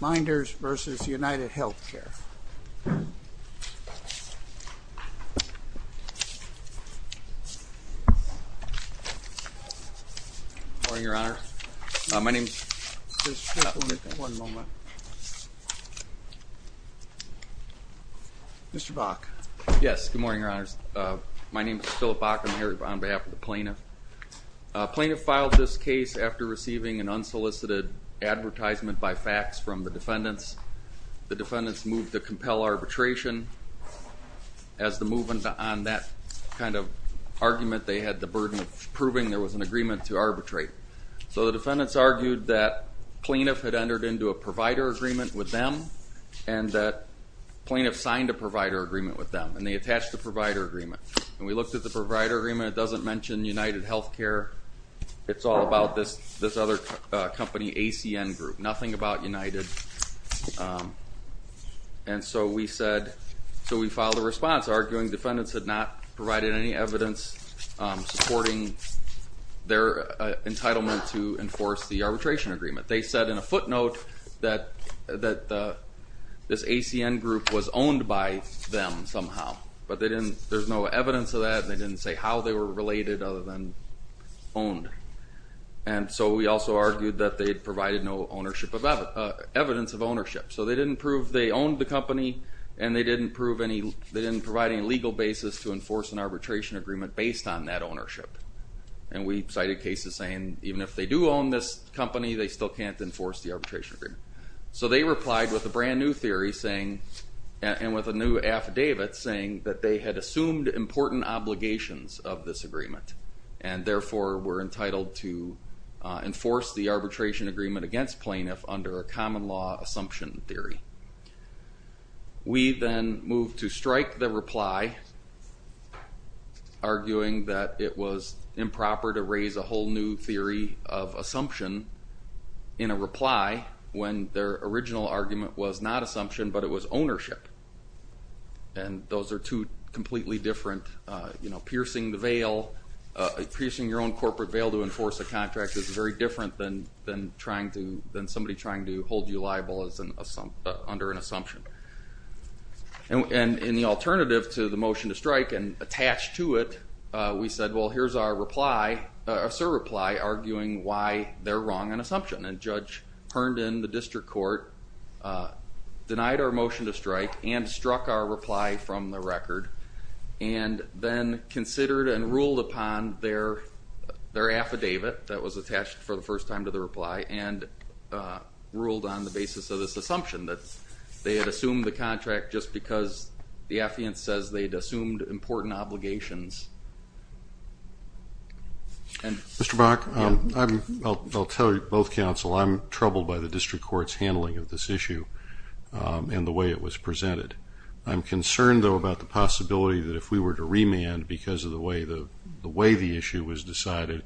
Meinders v. UnitedHealthcare. Good morning, Your Honor. My name is— Just one moment. Mr. Bach. Yes, good morning, Your Honors. My name is Philip Bach. I'm here on behalf of the plaintiff. Plaintiff filed this case after receiving an unsolicited advertisement by fax from the defendants. The defendants moved to compel arbitration. As the movement on that kind of argument, they had the burden of proving there was an agreement to arbitrate. So the defendants argued that plaintiff had entered into a provider agreement with them and that plaintiff signed a provider agreement with them, and they attached a provider agreement. And we looked at the provider agreement. It doesn't mention UnitedHealthcare. It's all about this other company, ACN Group, nothing about United. And so we said—so we filed a response arguing defendants had not provided any evidence supporting their entitlement to enforce the arbitration agreement. They said in a footnote that this ACN Group was owned by them somehow, but there's no evidence of that, and they didn't say how they were related other than owned. And so we also argued that they had provided no evidence of ownership. So they didn't prove they owned the company, and they didn't provide any legal basis to enforce an arbitration agreement based on that ownership. And we cited cases saying even if they do own this company, they still can't enforce the arbitration agreement. So they replied with a brand new theory saying—and with a new affidavit saying that they had assumed important obligations of this agreement, and therefore were entitled to enforce the arbitration agreement against plaintiff under a common law assumption theory. We then moved to strike the reply, arguing that it was improper to raise a whole new theory of assumption in a reply when their original argument was not assumption, but it was ownership. And those are two completely different, you know, piercing the veil, piercing your own corporate veil to enforce a contract is very different than somebody trying to hold you liable under an assumption. And in the alternative to the motion to strike and attached to it, we said, well, here's our reply—our reply arguing why they're wrong on assumption. And Judge Herndon, the district court, denied our motion to strike and struck our reply from the record and then considered and ruled upon their affidavit that was attached for the first time to the reply and ruled on the basis of this assumption that they had assumed the contract just because the affiant says they'd assumed important obligations. Mr. Bach, I'll tell you, both counsel, I'm troubled by the district court's handling of this issue and the way it was presented. I'm concerned, though, about the possibility that if we were to remand because of the way the issue was decided,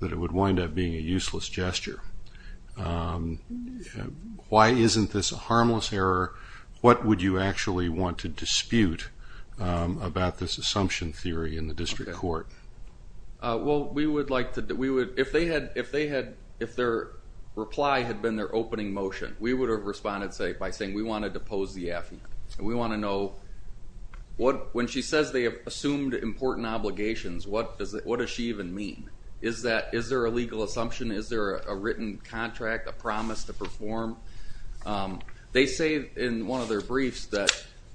that it would wind up being a useless gesture. Why isn't this a harmless error? What would you actually want to dispute about this assumption theory in the district court? Well, we would like to—we would—if they had—if their reply had been their opening motion, we would have responded by saying we want to depose the affiant. We want to know what—when she says they have assumed important obligations, what does she even mean? Is there a legal assumption? Is there a written contract, a promise to perform? They say in one of their briefs that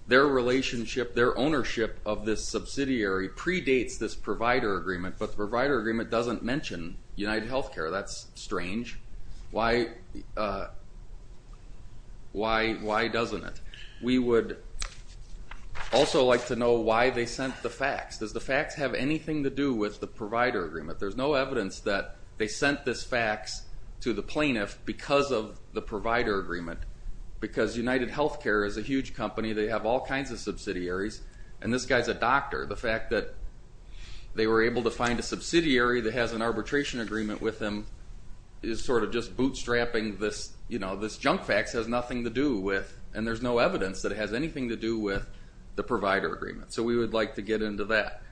their relationship, their ownership of this subsidiary predates this provider agreement, but the provider agreement doesn't mention UnitedHealthcare. That's strange. Why doesn't it? We would also like to know why they sent the facts. Does the facts have anything to do with the provider agreement? There's no evidence that they sent this facts to the plaintiff because of the provider agreement, because UnitedHealthcare is a huge company. They have all kinds of subsidiaries, and this guy's a doctor. The fact that they were able to find a subsidiary that has an arbitration agreement with him is sort of just bootstrapping this—this junk facts has nothing to do with, and there's no evidence that it has anything to do with the provider agreement. So we would like to get into that.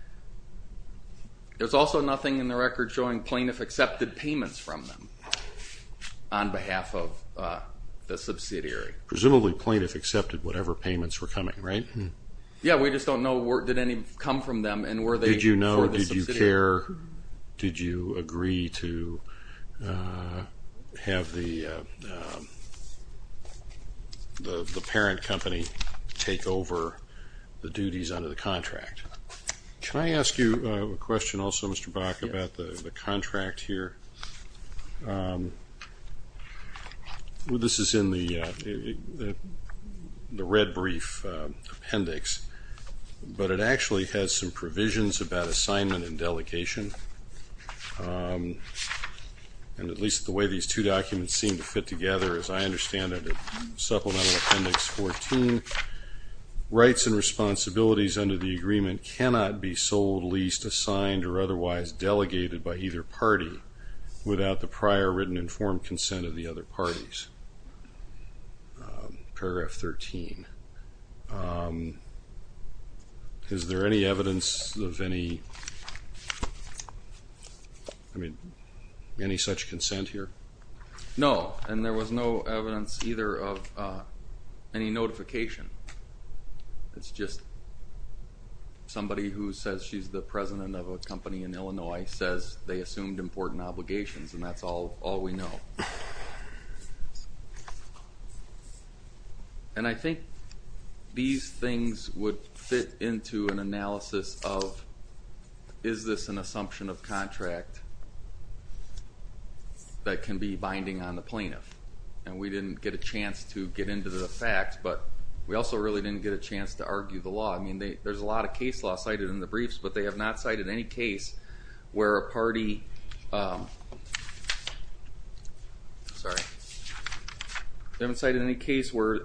There's also nothing in the record showing plaintiff accepted payments from them on behalf of the subsidiary. Presumably plaintiff accepted whatever payments were coming, right? Yeah, we just don't know did any come from them and were they for the subsidiary. Did you know, did you care, or did you agree to have the parent company take over the duties under the contract? Can I ask you a question also, Mr. Bach, about the contract here? This is in the red brief appendix, but it actually has some provisions about assignment and delegation, and at least the way these two documents seem to fit together, as I understand it, Supplemental Appendix 14, rights and responsibilities under the agreement cannot be sold, leased, assigned, or otherwise delegated by either party without the prior written informed consent of the other parties. Paragraph 13, is there any evidence of any such consent here? No, and there was no evidence either of any notification. It's just somebody who says she's the president of a company in Illinois says they assumed important obligations, and that's all we know. And I think these things would fit into an analysis of, is this an assumption of contract that can be binding on the plaintiff? And we didn't get a chance to get into the facts, but we also really didn't get a chance to argue the law. I mean, there's a lot of case law cited in the briefs, but they have not cited any case where a party, they haven't cited any case where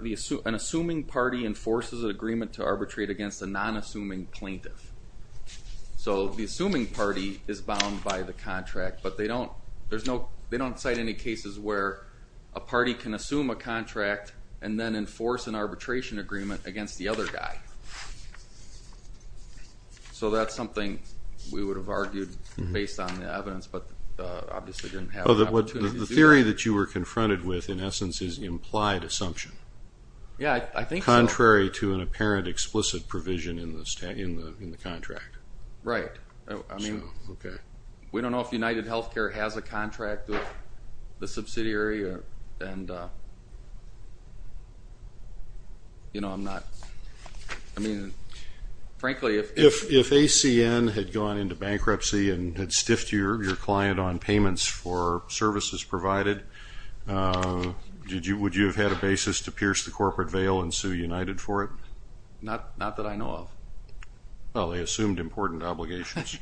an assuming party enforces an agreement to arbitrate against a non-assuming plaintiff. So the assuming party is bound by the contract, but they don't cite any cases where a party can assume a contract and then enforce an arbitration agreement against the other guy. So that's something we would have argued based on the evidence, but obviously didn't have an opportunity to do that. The theory that you were confronted with, in essence, is implied assumption. Yeah, I think so. Contrary to an apparent explicit provision in the contract. Right. Okay. We don't know if UnitedHealthcare has a contract with the subsidiary, and, you know, I'm not, I mean, frankly. If ACN had gone into bankruptcy and had stiffed your client on payments for services provided, would you have had a basis to pierce the corporate veil and sue United for it? Not that I know of. Well, they assumed important obligations.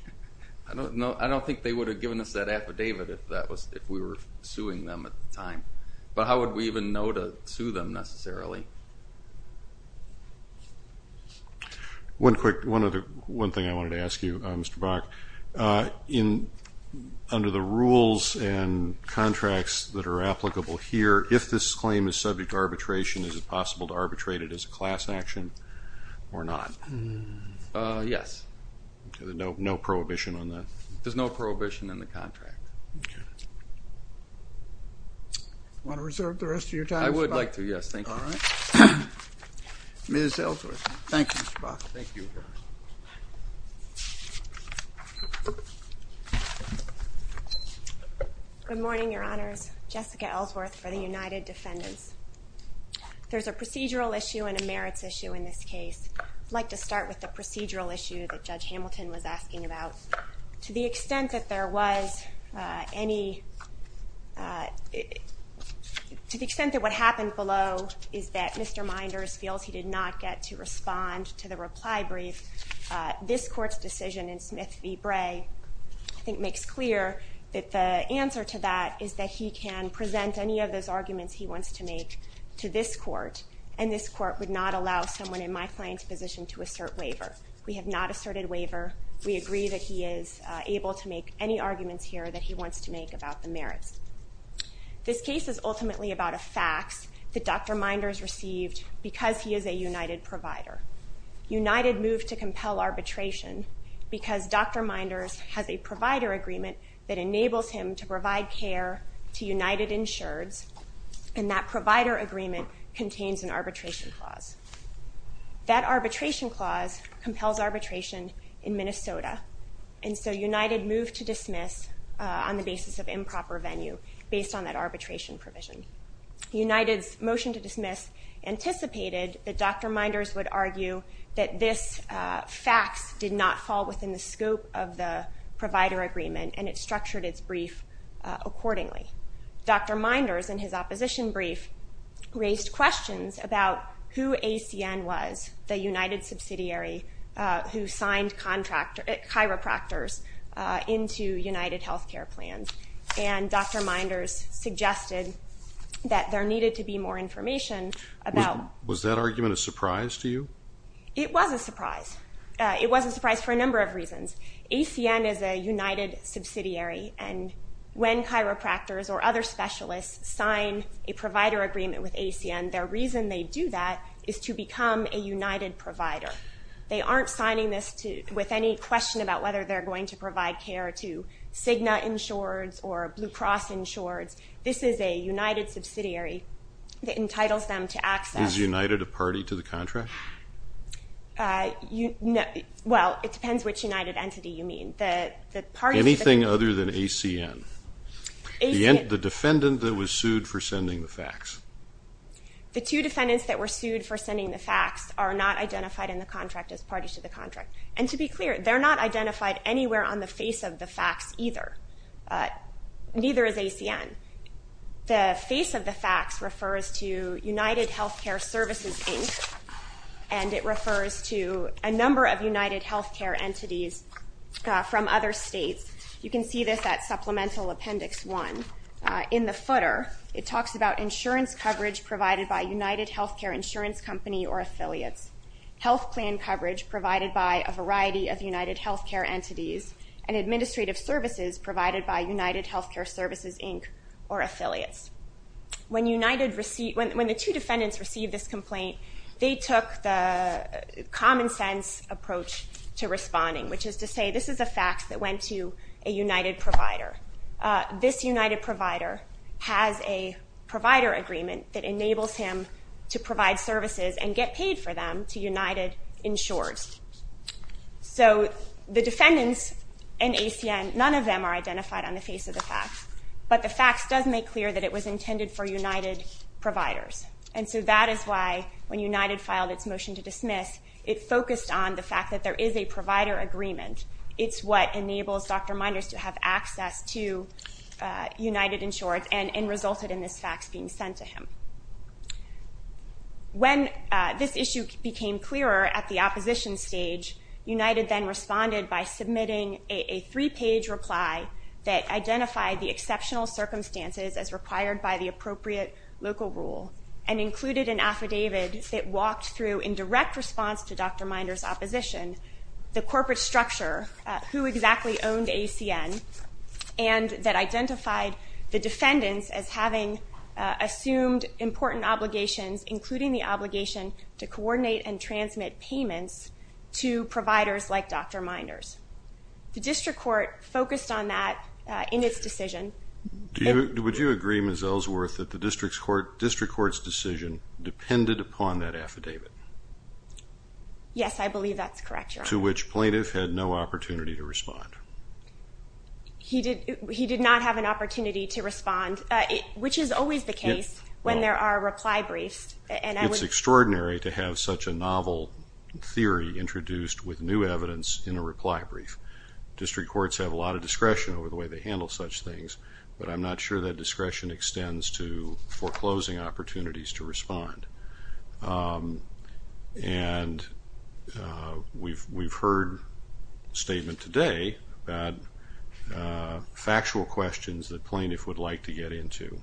I don't think they would have given us that affidavit if we were suing them at the time. But how would we even know to sue them necessarily? One quick, one thing I wanted to ask you, Mr. Brock. Under the rules and contracts that are applicable here, if this claim is subject to arbitration, is it possible to arbitrate it as a class action or not? Yes. No prohibition on that? There's no prohibition in the contract. Want to reserve the rest of your time, Mr. Brock? I would like to, yes. Thank you. All right. Ms. Ellsworth. Thank you, Mr. Brock. Thank you. Good morning, Your Honors. Jessica Ellsworth for the United Defendants. There's a procedural issue and a merits issue in this case. I'd like to start with the procedural issue that Judge Hamilton was asking about. To the extent that there was any to the extent that what happened below is that Mr. Minders feels he did not get to respond to the reply brief, this Court's decision in Smith v. Bray, I think, makes clear that the answer to that is that he can present any of those arguments he wants to make to this Court, and this Court would not allow someone in my client's position to assert waiver. We have not asserted waiver. We agree that he is able to make any arguments here that he wants to make about the merits. This case is ultimately about a fax that Dr. Minders received because he is a United provider. United moved to compel arbitration because Dr. Minders has a provider agreement that enables him to provide care to United Insureds, and that provider agreement contains an arbitration clause. That arbitration clause compels arbitration in Minnesota, and so United moved to dismiss on the basis of improper venue based on that arbitration provision. United's motion to dismiss anticipated that Dr. Minders would argue that this fax did not fall within the scope of the provider agreement, and it structured its brief accordingly. Dr. Minders, in his opposition brief, raised questions about who ACN was, the United subsidiary who signed chiropractors into United health care plans, and Dr. Minders suggested that there needed to be more information about... Was that argument a surprise to you? It was a surprise. It was a surprise for a number of reasons. ACN is a United subsidiary, and when chiropractors or other specialists sign a provider agreement with ACN, their reason they do that is to become a United provider. They aren't signing this with any question about whether they're going to provide care to Cigna Insureds or Blue Cross Insureds. This is a United subsidiary that entitles them to access... Is United a party to the contract? Well, it depends which United entity you mean. Anything other than ACN? The defendant that was sued for sending the fax. The two defendants that were sued for sending the fax are not identified in the contract as parties to the contract. And to be clear, they're not identified anywhere on the face of the fax either. Neither is ACN. The face of the fax refers to United Healthcare Services, Inc., and it refers to a number of United healthcare entities from other states. You can see this at Supplemental Appendix 1. In the footer, it talks about insurance coverage provided by United Healthcare Insurance Company or affiliates, health plan coverage provided by a variety of United healthcare entities, and administrative services provided by United Healthcare Services, Inc. or affiliates. When the two defendants received this complaint, they took the common sense approach to responding, which is to say this is a fax that went to a United provider. This United provider has a provider agreement that enables him to provide services and get paid for them to United Insureds. So the defendants in ACN, none of them are identified on the face of the fax, but the fax does make clear that it was intended for United providers. And so that is why when United filed its motion to dismiss, it focused on the fact that there is a provider agreement. It's what enables Dr. Meinders to have access to United Insureds and resulted in this fax being sent to him. When this issue became clearer at the opposition stage, United then responded by submitting a three-page reply that identified the exceptional circumstances as required by the appropriate local rule and included an affidavit that walked through in direct response to Dr. Meinders' opposition the corporate structure, who exactly owned ACN, and that identified the defendants as having assumed important obligations, including the obligation to coordinate and transmit payments to providers like Dr. Meinders. The district court focused on that in its decision. Would you agree, Ms. Ellsworth, that the district court's decision depended upon that affidavit? Yes, I believe that's correct, Your Honor. To which plaintiff had no opportunity to respond. He did not have an opportunity to respond, which is always the case when there are reply briefs. It's extraordinary to have such a novel theory introduced with new evidence in a reply brief. District courts have a lot of discretion over the way they handle such things, but I'm not sure that discretion extends to foreclosing opportunities to respond. And we've heard a statement today about factual questions that plaintiff would like to get into,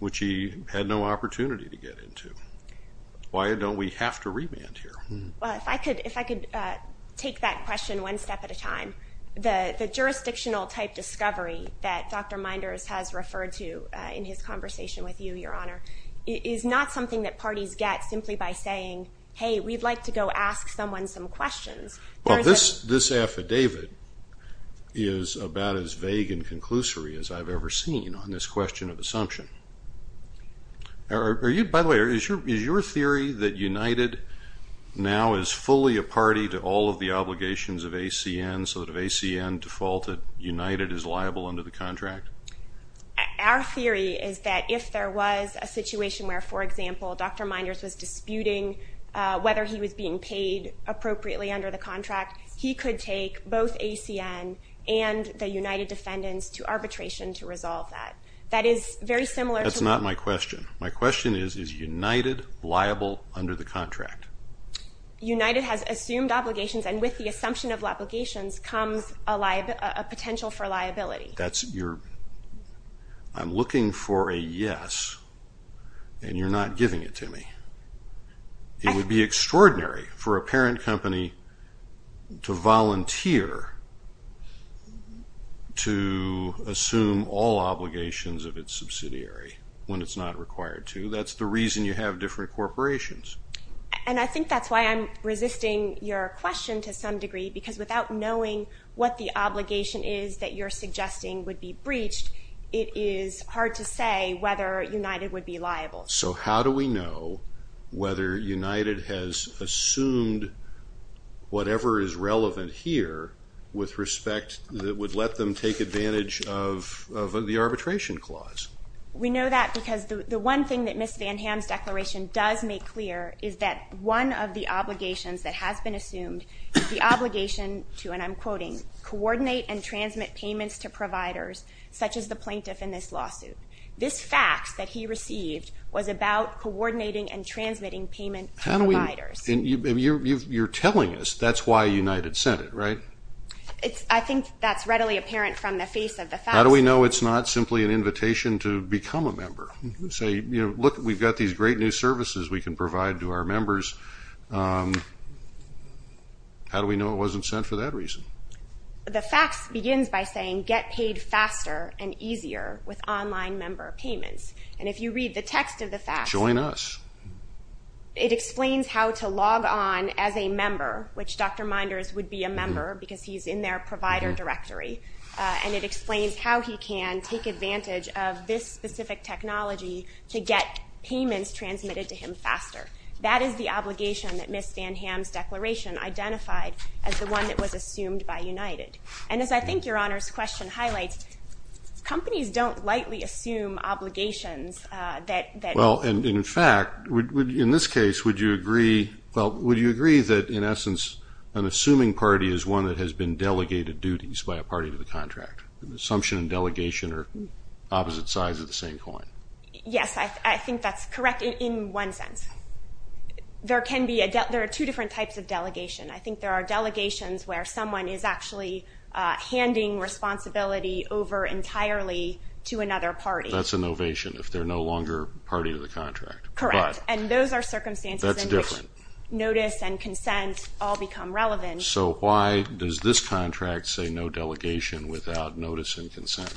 which he had no opportunity to get into. Why don't we have to remand here? Well, if I could take that question one step at a time, the jurisdictional type discovery that Dr. Meinders has referred to in his conversation with you, Your Honor, is not something that parties get simply by saying, hey, we'd like to go ask someone some questions. Well, this affidavit is about as vague and conclusory as I've ever seen on this question of assumption. By the way, is your theory that United now is fully a party to all of the obligations of ACN, so that if ACN defaulted, United is liable under the contract? Our theory is that if there was a situation where, for example, Dr. Meinders was disputing whether he was being paid appropriately under the contract, he could take both ACN and the United defendants to arbitration to resolve that. That is very similar to what you're saying. That's not my question. My question is, is United liable under the contract? United has assumed obligations, and with the assumption of obligations comes a potential for liability. I'm looking for a yes, and you're not giving it to me. It would be extraordinary for a parent company to volunteer to assume all obligations of its subsidiary when it's not required to. That's the reason you have different corporations. And I think that's why I'm resisting your question to some degree, because without knowing what the obligation is that you're suggesting would be breached, it is hard to say whether United would be liable. So how do we know whether United has assumed whatever is relevant here with respect that would let them take advantage of the arbitration clause? We know that because the one thing that Ms. Van Ham's declaration does make clear is that one of the obligations that has been assumed is the obligation to, and I'm quoting, coordinate and transmit payments to providers, such as the plaintiff in this lawsuit. This fax that he received was about coordinating and transmitting payment to providers. You're telling us that's why United sent it, right? I think that's readily apparent from the face of the fax. How do we know it's not simply an invitation to become a member? Look, we've got these great new services we can provide to our members. How do we know it wasn't sent for that reason? The fax begins by saying, get paid faster and easier with online member payments. And if you read the text of the fax, it explains how to log on as a member, which Dr. Minders would be a member because he's in their provider directory, and it explains how he can take advantage of this specific technology to get payments transmitted to him faster. That is the obligation that Ms. Van Ham's declaration identified as the one that was assumed by United. And as I think Your Honor's question highlights, companies don't lightly assume obligations. Well, and in fact, in this case, would you agree that, in essence, an assuming party is one that has been delegated duties by a party to the contract? Assumption and delegation are opposite sides of the same coin. Yes, I think that's correct in one sense. There are two different types of delegation. I think there are delegations where someone is actually handing responsibility over entirely to another party. That's an ovation if they're no longer a party to the contract. Correct, and those are circumstances in which notice and consent all become relevant. So why does this contract say no delegation without notice and consent,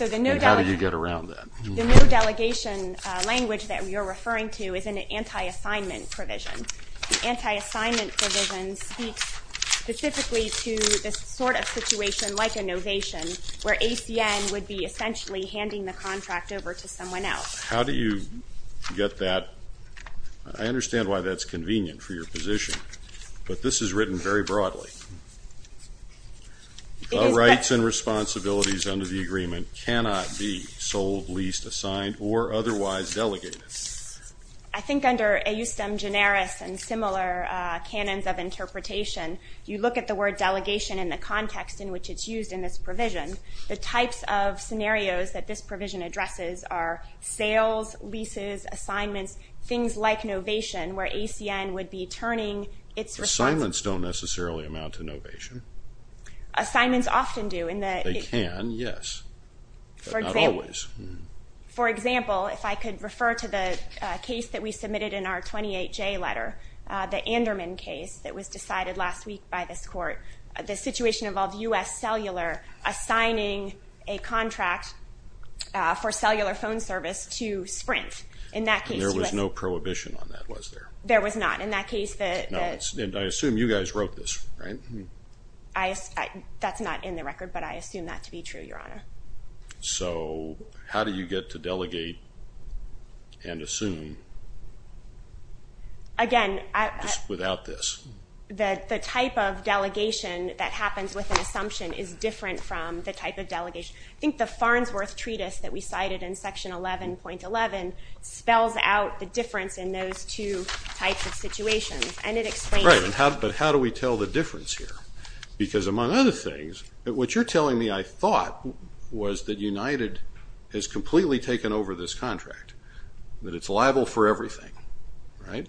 and how do you get around that? The no delegation language that you're referring to is an anti-assignment provision. The anti-assignment provision speaks specifically to this sort of situation like an ovation where ACN would be essentially handing the contract over to someone else. How do you get that? I understand why that's convenient for your position, but this is written very broadly. All rights and responsibilities under the agreement cannot be sold, leased, assigned, or otherwise delegated. I think under eustem generis and similar canons of interpretation, you look at the word delegation in the context in which it's used in this provision. The types of scenarios that this provision addresses are sales, leases, assignments, things like novation where ACN would be turning its responsibility. Assignments don't necessarily amount to novation. Assignments often do. They can, yes, but not always. For example, if I could refer to the case that we submitted in our 28J letter, the Anderman case that was decided last week by this court, the situation involved U.S. Cellular assigning a contract for cellular phone service to Sprint. There was no prohibition on that, was there? There was not. I assume you guys wrote this, right? That's not in the record, but I assume that to be true, Your Honor. So how do you get to delegate and assume without this? The type of delegation that happens with an assumption is different from the type of delegation. I think the Farnsworth Treatise that we cited in Section 11.11 spells out the difference in those two types of situations, and it explains it. Right, but how do we tell the difference here? Because among other things, what you're telling me, I thought, was that United has completely taken over this contract, that it's liable for everything, right?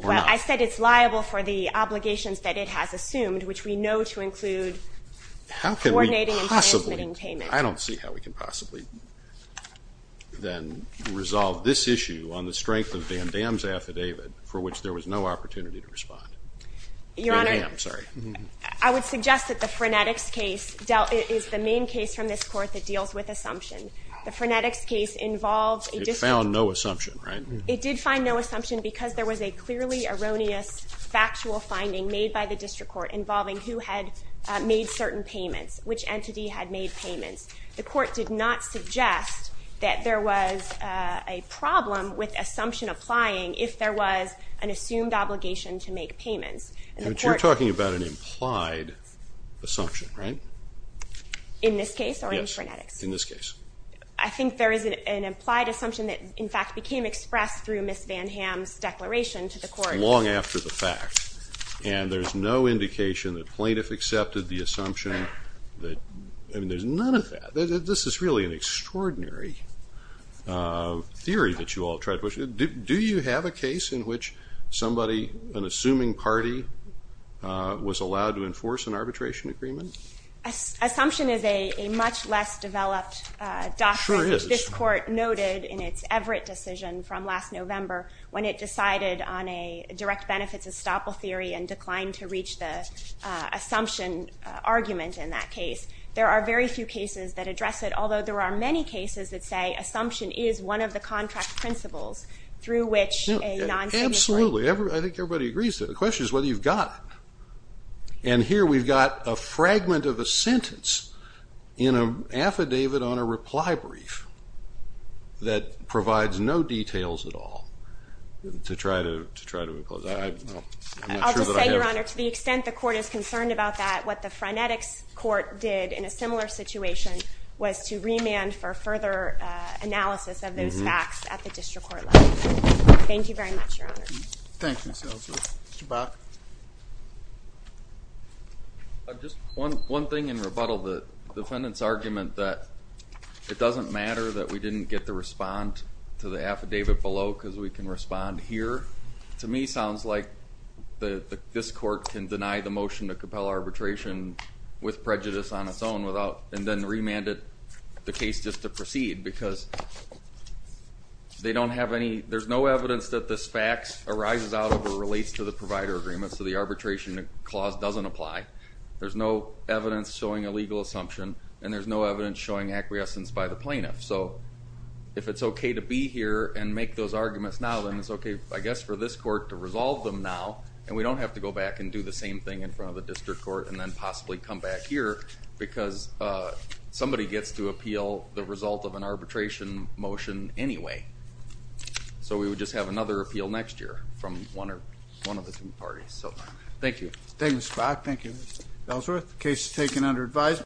Well, I said it's liable for the obligations that it has assumed, which we know to include coordinating and transmitting payments. I don't see how we can possibly then resolve this issue on the strength of Van Damme's affidavit, for which there was no opportunity to respond. Van Damme, sorry. Your Honor, I would suggest that the frenetics case is the main case from this court that deals with assumption. The frenetics case involves a dispute. It found no assumption, right? It did find no assumption because there was a clearly erroneous factual finding made by the district court involving who had made certain payments, which entity had made payments. The court did not suggest that there was a problem with assumption applying if there was an assumed obligation to make payments. But you're talking about an implied assumption, right? In this case or in frenetics? Yes, in this case. I think there is an implied assumption that, in fact, became expressed through Ms. Van Damme's declaration to the court. Long after the fact. And there's no indication that plaintiff accepted the assumption. I mean, there's none of that. This is really an extraordinary theory that you all tried to push. Do you have a case in which somebody, an assuming party, was allowed to enforce an arbitration agreement? Assumption is a much less developed doctrine. It sure is. This court noted in its Everett decision from last November when it decided on a direct benefits estoppel theory and declined to reach the assumption argument in that case. There are very few cases that address it, although there are many cases that say assumption is one of the contract principles through which a non-signatory. Absolutely. I think everybody agrees to it. The question is whether you've got it. And here we've got a fragment of a sentence in an affidavit on a reply brief that provides no details at all to try to impose. I'm not sure that I have it. I'll just say, Your Honor, to the extent the court is concerned about that, what the frenetics court did in a similar situation was to remand for further analysis of those facts at the district court level. Thank you very much, Your Honor. Thank you, counsel. Mr. Bach. Just one thing in rebuttal. The defendant's argument that it doesn't matter that we didn't get the respond to the affidavit below because we can respond here, to me sounds like this court can deny the motion to compel arbitration with prejudice on its own and then remand the case just to proceed because they don't have any, there's no evidence that this fact arises out or relates to the provider agreement, so the arbitration clause doesn't apply. There's no evidence showing a legal assumption and there's no evidence showing acquiescence by the plaintiff. So if it's okay to be here and make those arguments now, then it's okay, I guess, for this court to resolve them now and we don't have to go back and do the same thing in front of the district court and then possibly come back here because somebody gets to appeal the result of an arbitration motion anyway. So we would just have another appeal next year from one of the two parties. Thank you. Thank you, Mr. Bach. Thank you, Ms. Ellsworth. The case is taken under advisory.